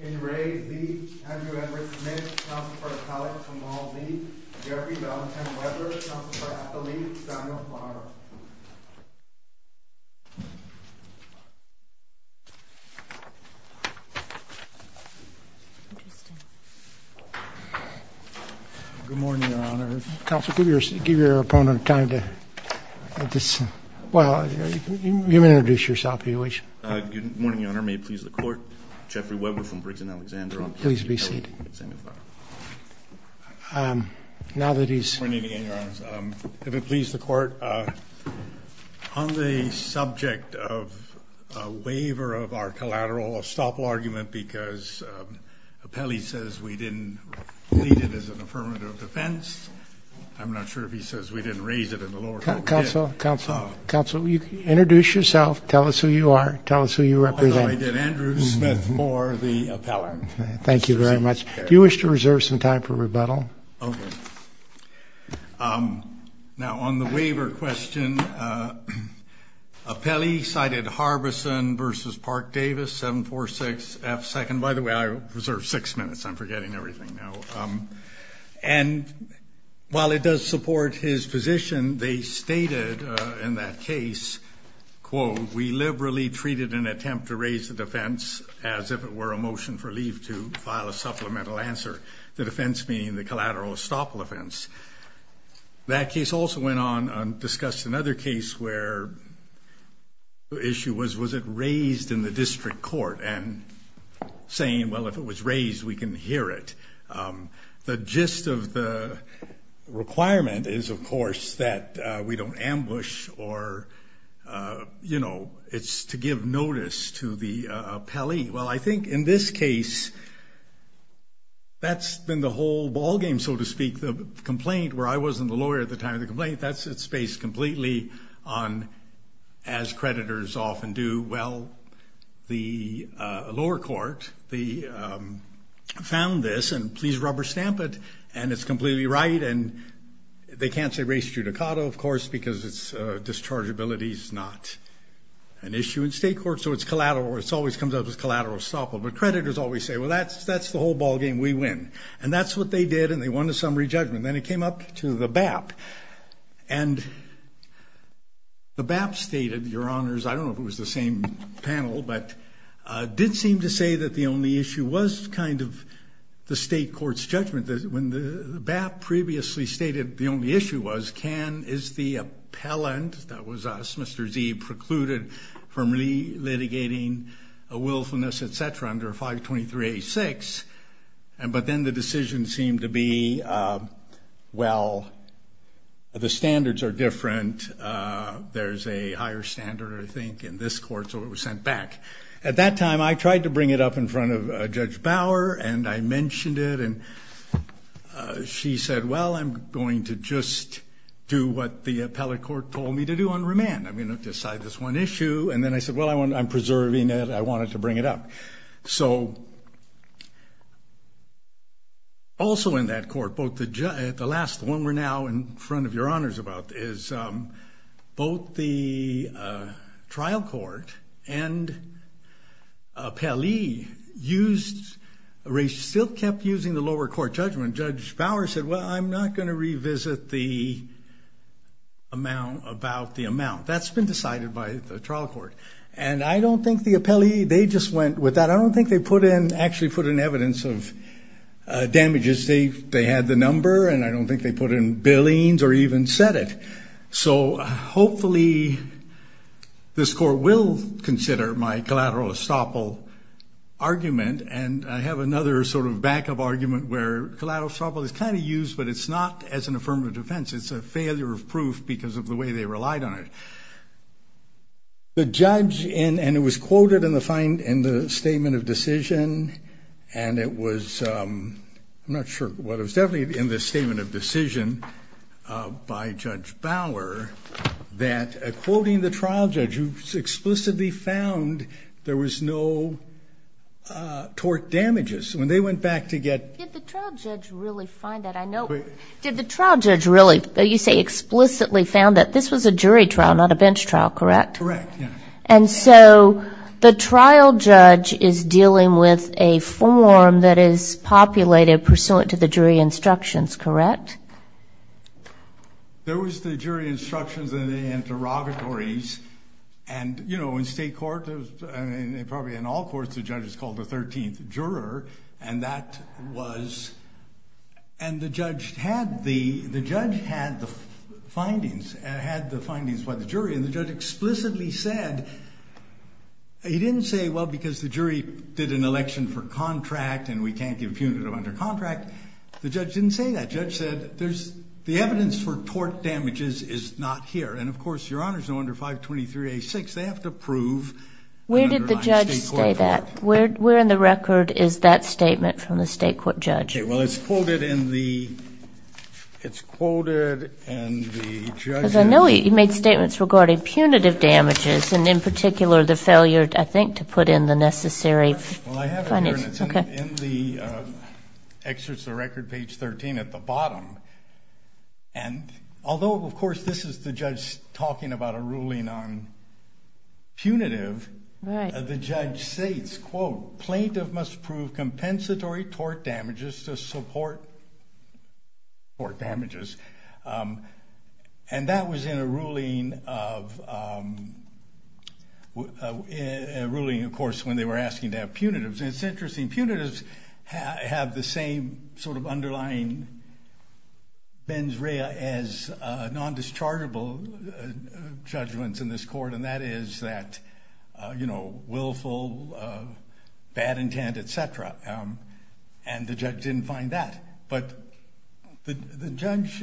Andrew Edward Smith, Council for the College, Kamal Zeeb, Gary Valentine Webber, Council for Athletics, Daniel Farrar. Good morning, Your Honor. Counsel, give your opponent time to, well, you may introduce yourself if you wish. Good morning, Your Honor. May it please the Court, Jeffrey Webber from Briggs and Alexander. Please be seated. Now that he's... Good morning again, Your Honor. If it please the Court, on the subject of a waiver of our collateral, a stop argument because Appelli says we didn't read it as an affirmative defense. I'm not sure if he says we didn't raise it in the lower court. Counsel, Counsel, Counsel, introduce yourself. Tell us who you are. Tell us who you represent. I did. Andrew Smith Moore, the appellant. Thank you very much. Do you wish to reserve some time for rebuttal? Okay. Now, on the waiver question, Appelli cited Harbison versus Park Davis, 7-4-6-F-2nd. By the way, I reserved six minutes. I'm forgetting everything now. And while it does support his position, they stated in that case, quote, we liberally treated an attempt to raise the defense as if it were a motion for leave to file a supplemental answer. The defense being the collateral estoppel offense. That case also went on to discuss another case where the issue was, was it raised in the district court? And saying, well, if it was raised, we can hear it. The gist of the requirement is, of course, that we don't ambush or, you know, it's to give notice to the appellee. Well, I think in this case, that's been the whole ballgame, so to speak. The complaint where I wasn't the lawyer at the time of the complaint, that's it's based completely on as creditors often do. Well, the lower court, they found this and please rubber stamp it. And it's completely right. And they can't say race judicato, of course, because it's discharge abilities, not an issue in state court. So it's collateral. It's always comes up as collateral estoppel. But creditors always say, well, that's that's the whole ballgame. We win. And that's what they did. And they won a summary judgment. Then it came up to the BAP. And the BAP stated, Your Honors, I don't know if it was the same panel, but did seem to say that the only issue was kind of the state court's judgment. When the BAP previously stated the only issue was can is the appellant. That was us. Mr. Z precluded from really litigating a willfulness, et cetera, under 523 86. And but then the decision seemed to be, well, the standards are different. There is a higher standard, I think, in this court. So it was sent back at that time. I tried to bring it up in front of Judge Bauer and I mentioned it and she said, well, I'm going to just do what the appellate court told me to do on remand. I'm going to decide this one issue. And then I said, well, I want I'm preserving it. I wanted to bring it up. So also in that court, both the last one we're now in front of Your Honors about is both the trial court and appellee used, still kept using the lower court judgment. Judge Bauer said, well, I'm not going to revisit the amount about the amount that's been decided by the trial court. And I don't think the appellee they just went with that. I don't think they put in actually put in evidence of damages. They they had the number and I don't think they put in billions or even said it. So hopefully this court will consider my collateral estoppel argument. And I have another sort of backup argument where collateral estoppel is kind of used, but it's not as an affirmative defense. It's a failure of proof because of the way they relied on it. The judge. And it was quoted in the find in the statement of decision. And it was not sure what it was definitely in the statement of decision by Judge Bauer that quoting the trial judge, who explicitly found there was no tort damages when they went back to get the trial judge really find that. The trial judge really, you say explicitly found that this was a jury trial, not a bench trial, correct? And so the trial judge is dealing with a form that is populated pursuant to the jury instructions, correct? There was the jury instructions and the interrogatories and, you know, in state court, probably in all courts, the judge is called the 13th juror. And that was and the judge had the the judge had the findings and had the findings by the jury. And the judge explicitly said he didn't say, well, because the jury did an election for contract and we can't give punitive under contract. The judge didn't say that. Judge said there's the evidence for tort damages is not here. And, of course, your honor's no under 523 a six. They have to prove where did the judge say that? Where where in the record is that statement from the state court judge? Well, it's quoted in the it's quoted. And I know he made statements regarding punitive damages and in particular the failure, I think, to put in the necessary. Well, I have it in the excerpts of record page 13 at the bottom. And although, of course, this is the judge talking about a ruling on. Punitive. The judge states, quote, plaintiff must prove compensatory tort damages to support. Or damages. And that was in a ruling of a ruling, of course, when they were asking to have punitives. It's interesting. Punitives have the same sort of underlying. Ben's real as non-dischargeable judgments in this court, and that is that, you know, willful, bad intent, et cetera. And the judge didn't find that. But the judge.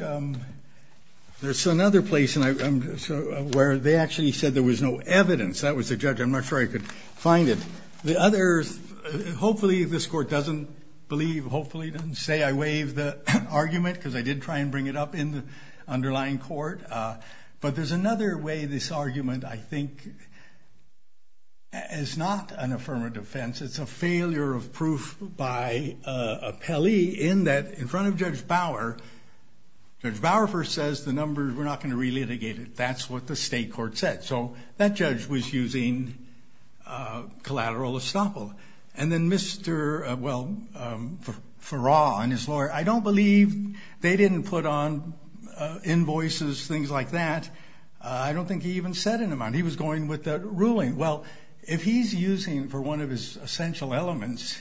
There's another place where they actually said there was no evidence that was a judge. I'm not sure I could find it. The others. Hopefully this court doesn't believe. Hopefully it doesn't say I waive the argument because I did try and bring it up in the underlying court. But there's another way this argument, I think. It's not an affirmative defense. It's a failure of proof by a Pele in that in front of Judge Bauer. Judge Bauer first says the numbers were not going to relitigate it. That's what the state court said. So that judge was using collateral estoppel. And then Mr. Farrar and his lawyer, I don't believe they didn't put on invoices, things like that. I don't think he even set an amount. He was going with the ruling. Well, if he's using for one of his essential elements,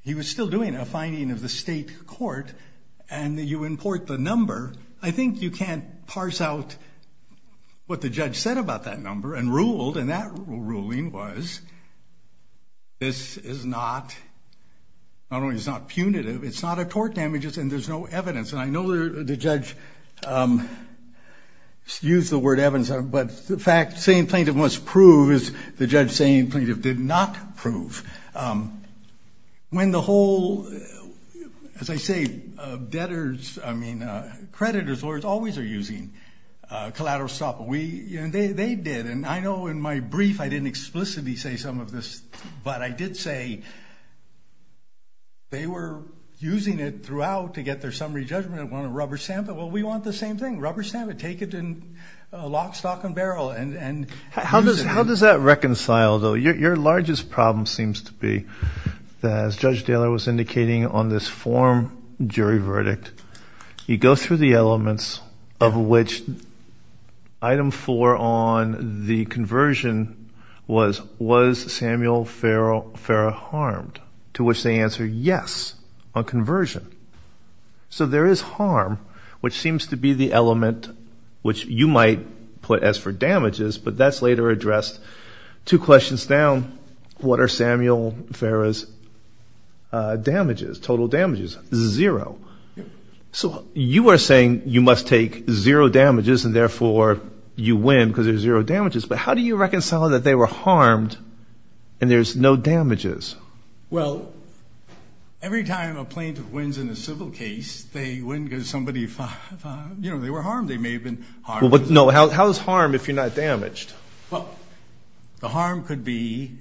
he was still doing a finding of the state court and you import the number. I think you can't parse out what the judge said about that number and ruled. And that ruling was. This is not. Not only is not punitive, it's not a tort damages and there's no evidence. And I know the judge used the word evidence. But the fact same plaintiff must prove is the judge saying plaintiff did not prove when the whole. As I say, debtors, I mean, creditors, lawyers always are using collateral stuff. We they did. And I know in my brief I didn't explicitly say some of this, but I did say. They were using it throughout to get their summary judgment on a rubber stamp. Well, we want the same thing. Rubber stamp it. Take it in lock, stock and barrel. And how does how does that reconcile, though? Your largest problem seems to be that, as Judge Taylor was indicating on this form jury verdict, you go through the elements of which item four on the conversion was. Was Samuel Farrell Farrell harmed to which they answer yes on conversion. So there is harm, which seems to be the element which you might put as for damages. But that's later addressed. Two questions down. What are Samuel Farrell's damages? Total damages? Zero. So you are saying you must take zero damages and therefore you win because there's zero damages. But how do you reconcile that they were harmed and there's no damages? Well, every time a plaintiff wins in a civil case, they win because somebody, you know, they were harmed. They may have been. But no. How is harm if you're not damaged? Well, the harm could be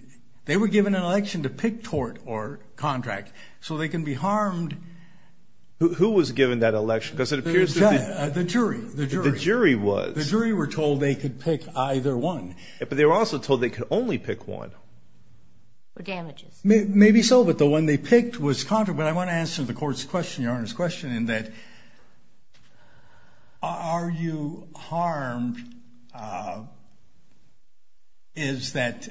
they were given an election to pick tort or contract so they can be harmed. Who was given that election because it appears that the jury, the jury, the jury was the jury were told they could pick either one. But they were also told they could only pick one. The damages may be so, but the one they picked was caught. But I want to answer the court's question, Your Honor's question, in that are you harmed? Is that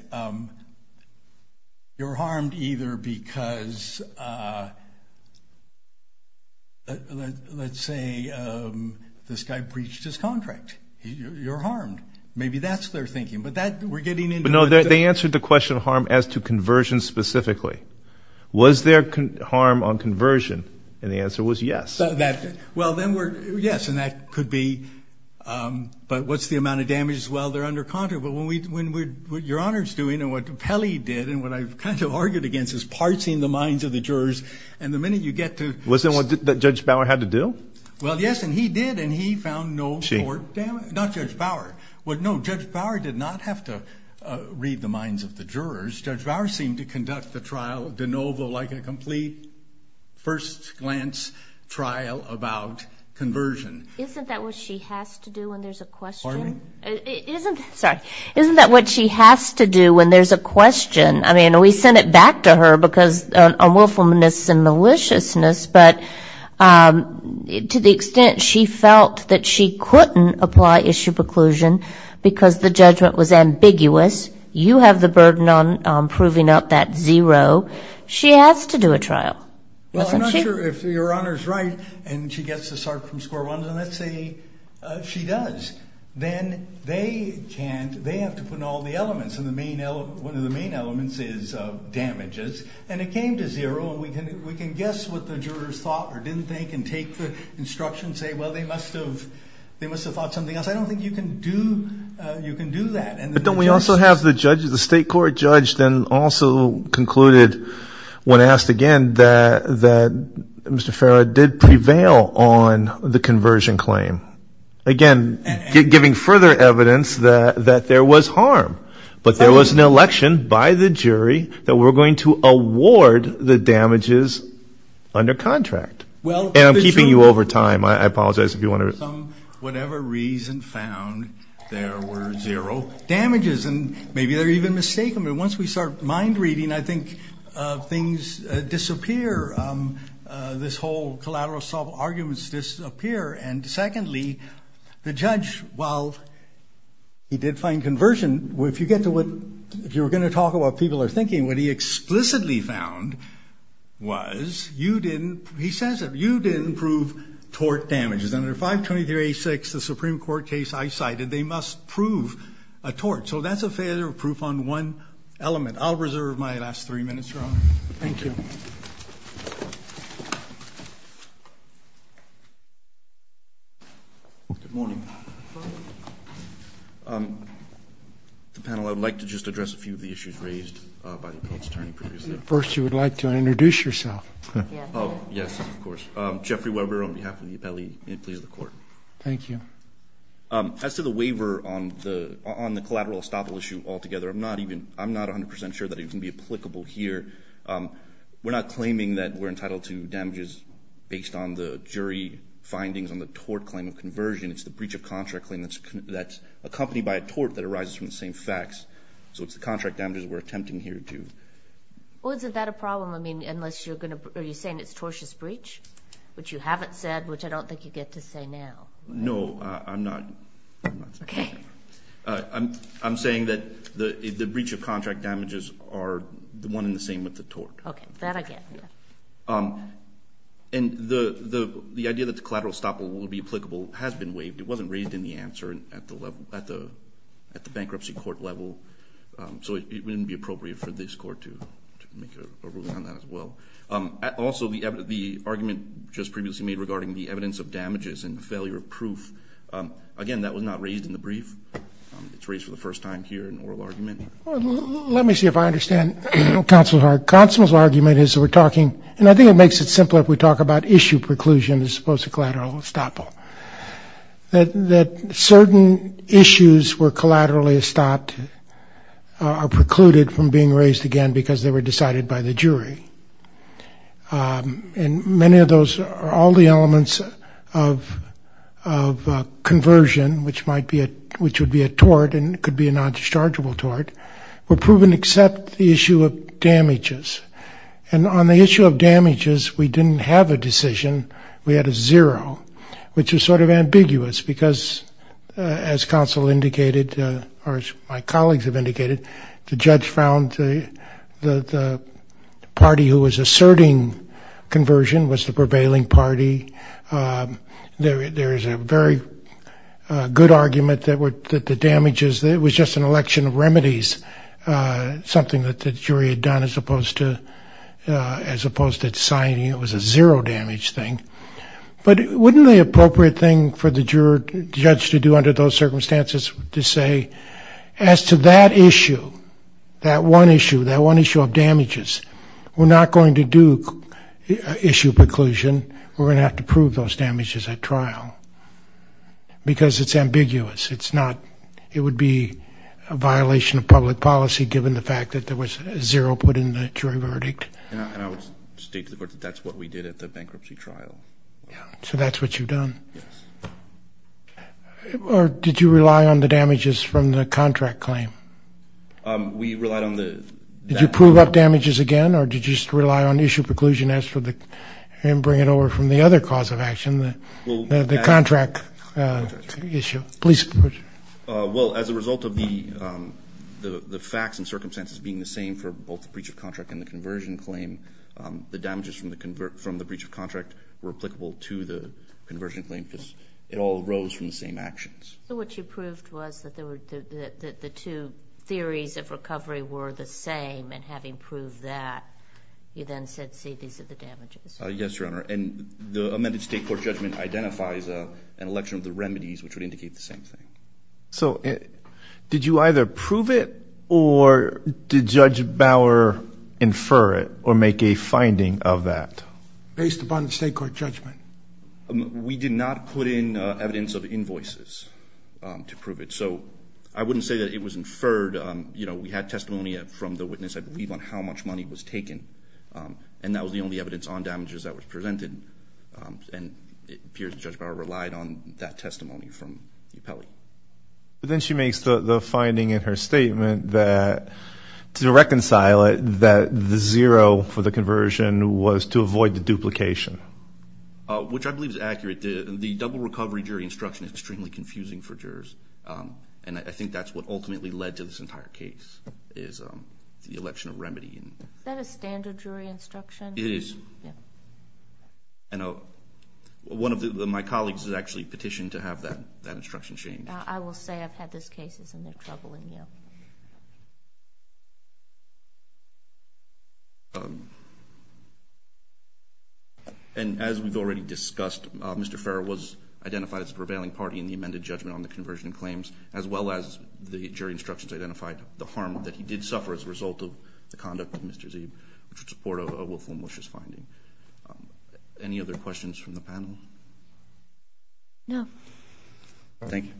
you're harmed either because, let's say, this guy breached his contract. You're harmed. Maybe that's their thinking, but that we're getting into. No, they answered the question of harm as to conversion specifically. Was there harm on conversion? And the answer was yes. Well, then we're, yes, and that could be, but what's the amount of damages while they're under contract? But when we, when we, what Your Honor's doing and what Pelley did and what I've kind of argued against is parsing the minds of the jurors. And the minute you get to. Wasn't what Judge Bauer had to do? Well, yes, and he did. And he found no more damage. Not Judge Bauer. Well, no, Judge Bauer did not have to read the minds of the jurors. Judge Bauer seemed to conduct the trial de novo like a complete first glance trial about conversion. Isn't that what she has to do when there's a question? Pardon me? Isn't, sorry, isn't that what she has to do when there's a question? I mean, we send it back to her because unwillfulness and maliciousness, but to the extent she felt that she couldn't apply issue preclusion because the judgment was ambiguous, you have the burden on proving out that zero. She has to do a trial. Well, I'm not sure if Your Honor's right, and she gets to start from square one. And let's say she does. Then they can't, they have to put in all the elements. And the main, one of the main elements is damages. And it came to zero, and we can guess what the jurors thought or didn't think and take the instruction and say, well, they must have thought something else. I don't think you can do that. But don't we also have the judge, the state court judge, then also concluded when asked again that Mr. Farrow did prevail on the conversion claim. Again, giving further evidence that there was harm. But there was an election by the jury that we're going to award the damages under contract. And I'm keeping you over time. I apologize if you want to. Whatever reason found, there were zero damages. And maybe they're even mistaken. But once we start mind reading, I think things disappear. This whole collateral assault arguments disappear. And secondly, the judge, while he did find conversion, if you were going to talk about what people are thinking, what he explicitly found was you didn't, he says it, you didn't prove tort damages. Under 523A6, the Supreme Court case I cited, they must prove a tort. So that's a failure of proof on one element. I'll reserve my last three minutes, Your Honor. Thank you. Good morning. The panel, I would like to just address a few of the issues raised by the appellate's attorney previously. First, you would like to introduce yourself. Yes, of course. Jeffrey Weber on behalf of the appellee. May it please the Court. Thank you. As to the waiver on the collateral estoppel issue altogether, I'm not 100% sure that it can be applicable here. We're not claiming that we're entitled to damages based on the jury findings on the tort claim of conversion. It's the breach of contract claim that's accompanied by a tort that arises from the same facts. So it's the contract damages we're attempting here to. Well, isn't that a problem? I mean, unless you're going to, are you saying it's tortious breach, which you haven't said, which I don't think you get to say now. No, I'm not. Okay. I'm saying that the breach of contract damages are one and the same with the tort. Okay, that I get. And the idea that the collateral estoppel will be applicable has been waived. It wasn't raised in the answer at the bankruptcy court level, so it wouldn't be appropriate for this court to make a ruling on that as well. Also, the argument just previously made regarding the evidence of damages and the failure of proof, again, that was not raised in the brief. It's raised for the first time here in oral argument. Let me see if I understand counsel's argument. Counsel's argument is that we're talking, and I think it makes it simpler if we talk about issue preclusion as opposed to collateral estoppel, that certain issues where collateral is stopped are precluded from being raised again because they were decided by the jury. And many of those, all the elements of conversion, which would be a tort and could be a non-dischargeable tort, were proven except the issue of damages. And on the issue of damages, we didn't have a decision. We had a zero, which is sort of ambiguous because, as counsel indicated, or as my colleagues have indicated, the judge found the party who was asserting conversion was the prevailing party. There is a very good argument that the damages, it was just an election of remedies, something that the jury had done as opposed to signing. It was a zero damage thing. But wouldn't the appropriate thing for the judge to do under those circumstances to say, as to that issue, that one issue, that one issue of damages, we're not going to do issue preclusion. We're going to have to prove those damages at trial because it's ambiguous. It's not, it would be a violation of public policy, given the fact that there was a zero put in the jury verdict. And I would state to the court that that's what we did at the bankruptcy trial. So that's what you've done? Yes. Or did you rely on the damages from the contract claim? We relied on the that. Did you prove up damages again, or did you just rely on issue preclusion as for the, and bring it over from the other cause of action, the contract issue? Well, as a result of the facts and circumstances being the same for both the breach of contract and the conversion claim, the damages from the breach of contract were applicable to the conversion claim because it all arose from the same actions. So what you proved was that the two theories of recovery were the same, and having proved that, you then said, see, these are the damages. Yes, Your Honor. And the amended state court judgment identifies an election of the remedies, which would indicate the same thing. So did you either prove it, or did Judge Bauer infer it or make a finding of that? Based upon the state court judgment. We did not put in evidence of invoices to prove it. So I wouldn't say that it was inferred. We had testimony from the witness, I believe, on how much money was taken, and that was the only evidence on damages that was presented. And it appears that Judge Bauer relied on that testimony from the appellee. But then she makes the finding in her statement that to reconcile it, that the zero for the conversion was to avoid the duplication. Which I believe is accurate. The double recovery jury instruction is extremely confusing for jurors, and I think that's what ultimately led to this entire case is the election of remedy. Is that a standard jury instruction? It is. One of my colleagues has actually petitioned to have that instruction changed. I will say I've had this case, and it's troubling me. And as we've already discussed, Mr. Farrell was identified as the prevailing party in the amended judgment on the conversion claims, as well as the jury instructions identified the harm that he did suffer as a result of the conduct of Mr. Zeeb, which would support a willful and malicious finding. Any other questions from the panel? No. Thank you.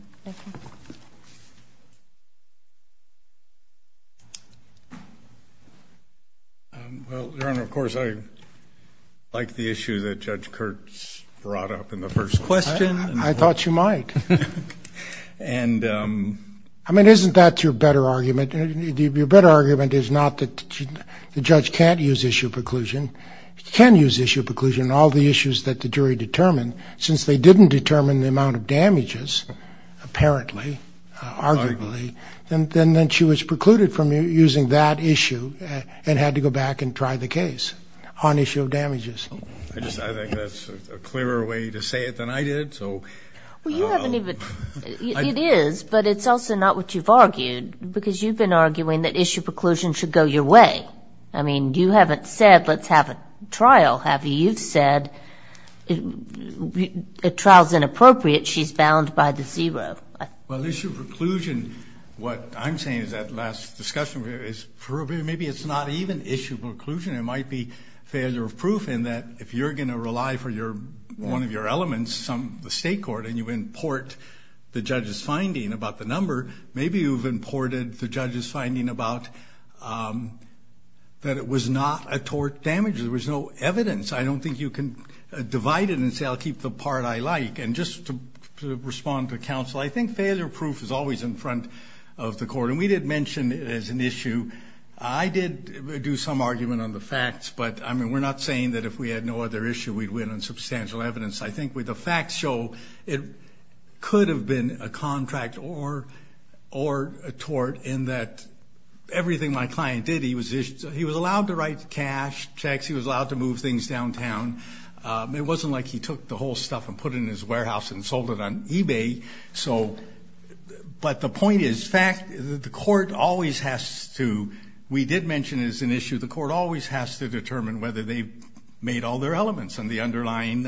Well, Your Honor, of course I like the issue that Judge Kurtz brought up in the first question. I thought you might. I mean, isn't that your better argument? Your better argument is not that the judge can't use issue preclusion. She can use issue preclusion on all the issues that the jury determined. Since they didn't determine the amount of damages, apparently, arguably, then she was precluded from using that issue and had to go back and try the case on issue of damages. I think that's a clearer way to say it than I did. Well, it is, but it's also not what you've argued, because you've been arguing that issue preclusion should go your way. I mean, you haven't said let's have a trial, have you? You've said a trial is inappropriate. She's bound by the zero. Well, issue preclusion, what I'm saying is that last discussion, maybe it's not even issue preclusion. It might be failure of proof in that if you're going to rely for one of your elements, the state court, and you import the judge's finding about the number, maybe you've imported the judge's finding about that it was not a tort damage. There was no evidence. I don't think you can divide it and say I'll keep the part I like. And just to respond to counsel, I think failure of proof is always in front of the court. And we did mention it as an issue. I did do some argument on the facts, but, I mean, we're not saying that if we had no other issue we'd win on substantial evidence. I think with the facts show it could have been a contract or a tort in that everything my client did, he was allowed to write cash checks, he was allowed to move things downtown. It wasn't like he took the whole stuff and put it in his warehouse and sold it on eBay. But the point is the court always has to, we did mention it as an issue, the court always has to determine whether they made all their elements in the underlying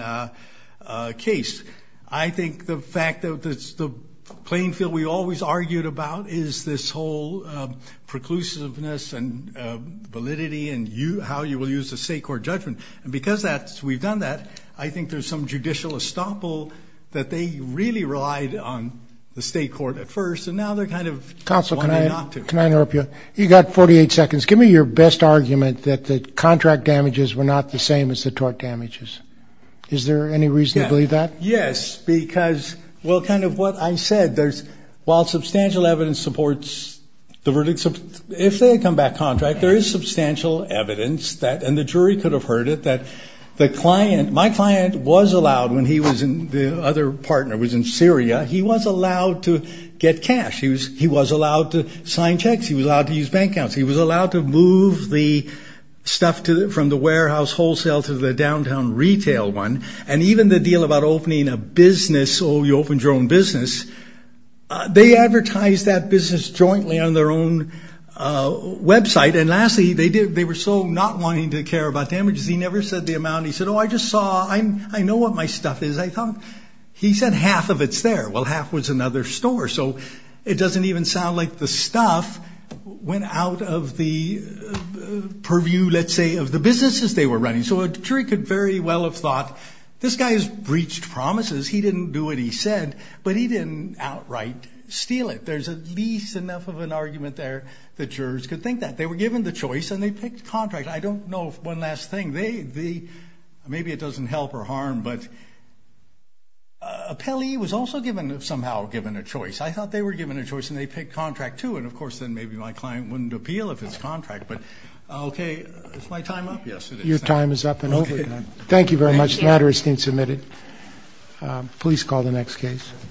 case. I think the fact that the playing field we always argued about is this whole preclusiveness and validity and how you will use the state court judgment. And because we've done that, I think there's some judicial estoppel that they really relied on the state court at first, and now they're kind of wanting not to. Counsel, can I interrupt you? You've got 48 seconds. Give me your best argument that the contract damages were not the same as the tort damages. Is there any reason to believe that? Yes, because, well, kind of what I said, while substantial evidence supports the verdict, if they come back contract, there is substantial evidence that, and the jury could have heard it, that my client was allowed when the other partner was in Syria, he was allowed to get cash. He was allowed to sign checks. He was allowed to use bank accounts. He was allowed to move the stuff from the warehouse wholesale to the downtown retail one. And even the deal about opening a business, oh, you open your own business, they advertised that business jointly on their own website. And lastly, they were so not wanting to care about damages, he never said the amount. He said, oh, I just saw, I know what my stuff is. He said half of it's there. Well, half was another store. So it doesn't even sound like the stuff went out of the purview, let's say, of the businesses they were running. So a jury could very well have thought, this guy has breached promises. He didn't do what he said, but he didn't outright steal it. There's at least enough of an argument there that jurors could think that. They were given the choice, and they picked contract. I don't know one last thing. Maybe it doesn't help or harm, but appellee was also given, somehow given a choice. I thought they were given a choice, and they picked contract, too. And, of course, then maybe my client wouldn't appeal if it's contract. But, okay, is my time up? Yes, it is. Your time is up and over. Thank you very much. The matter has been submitted. Please call the next case.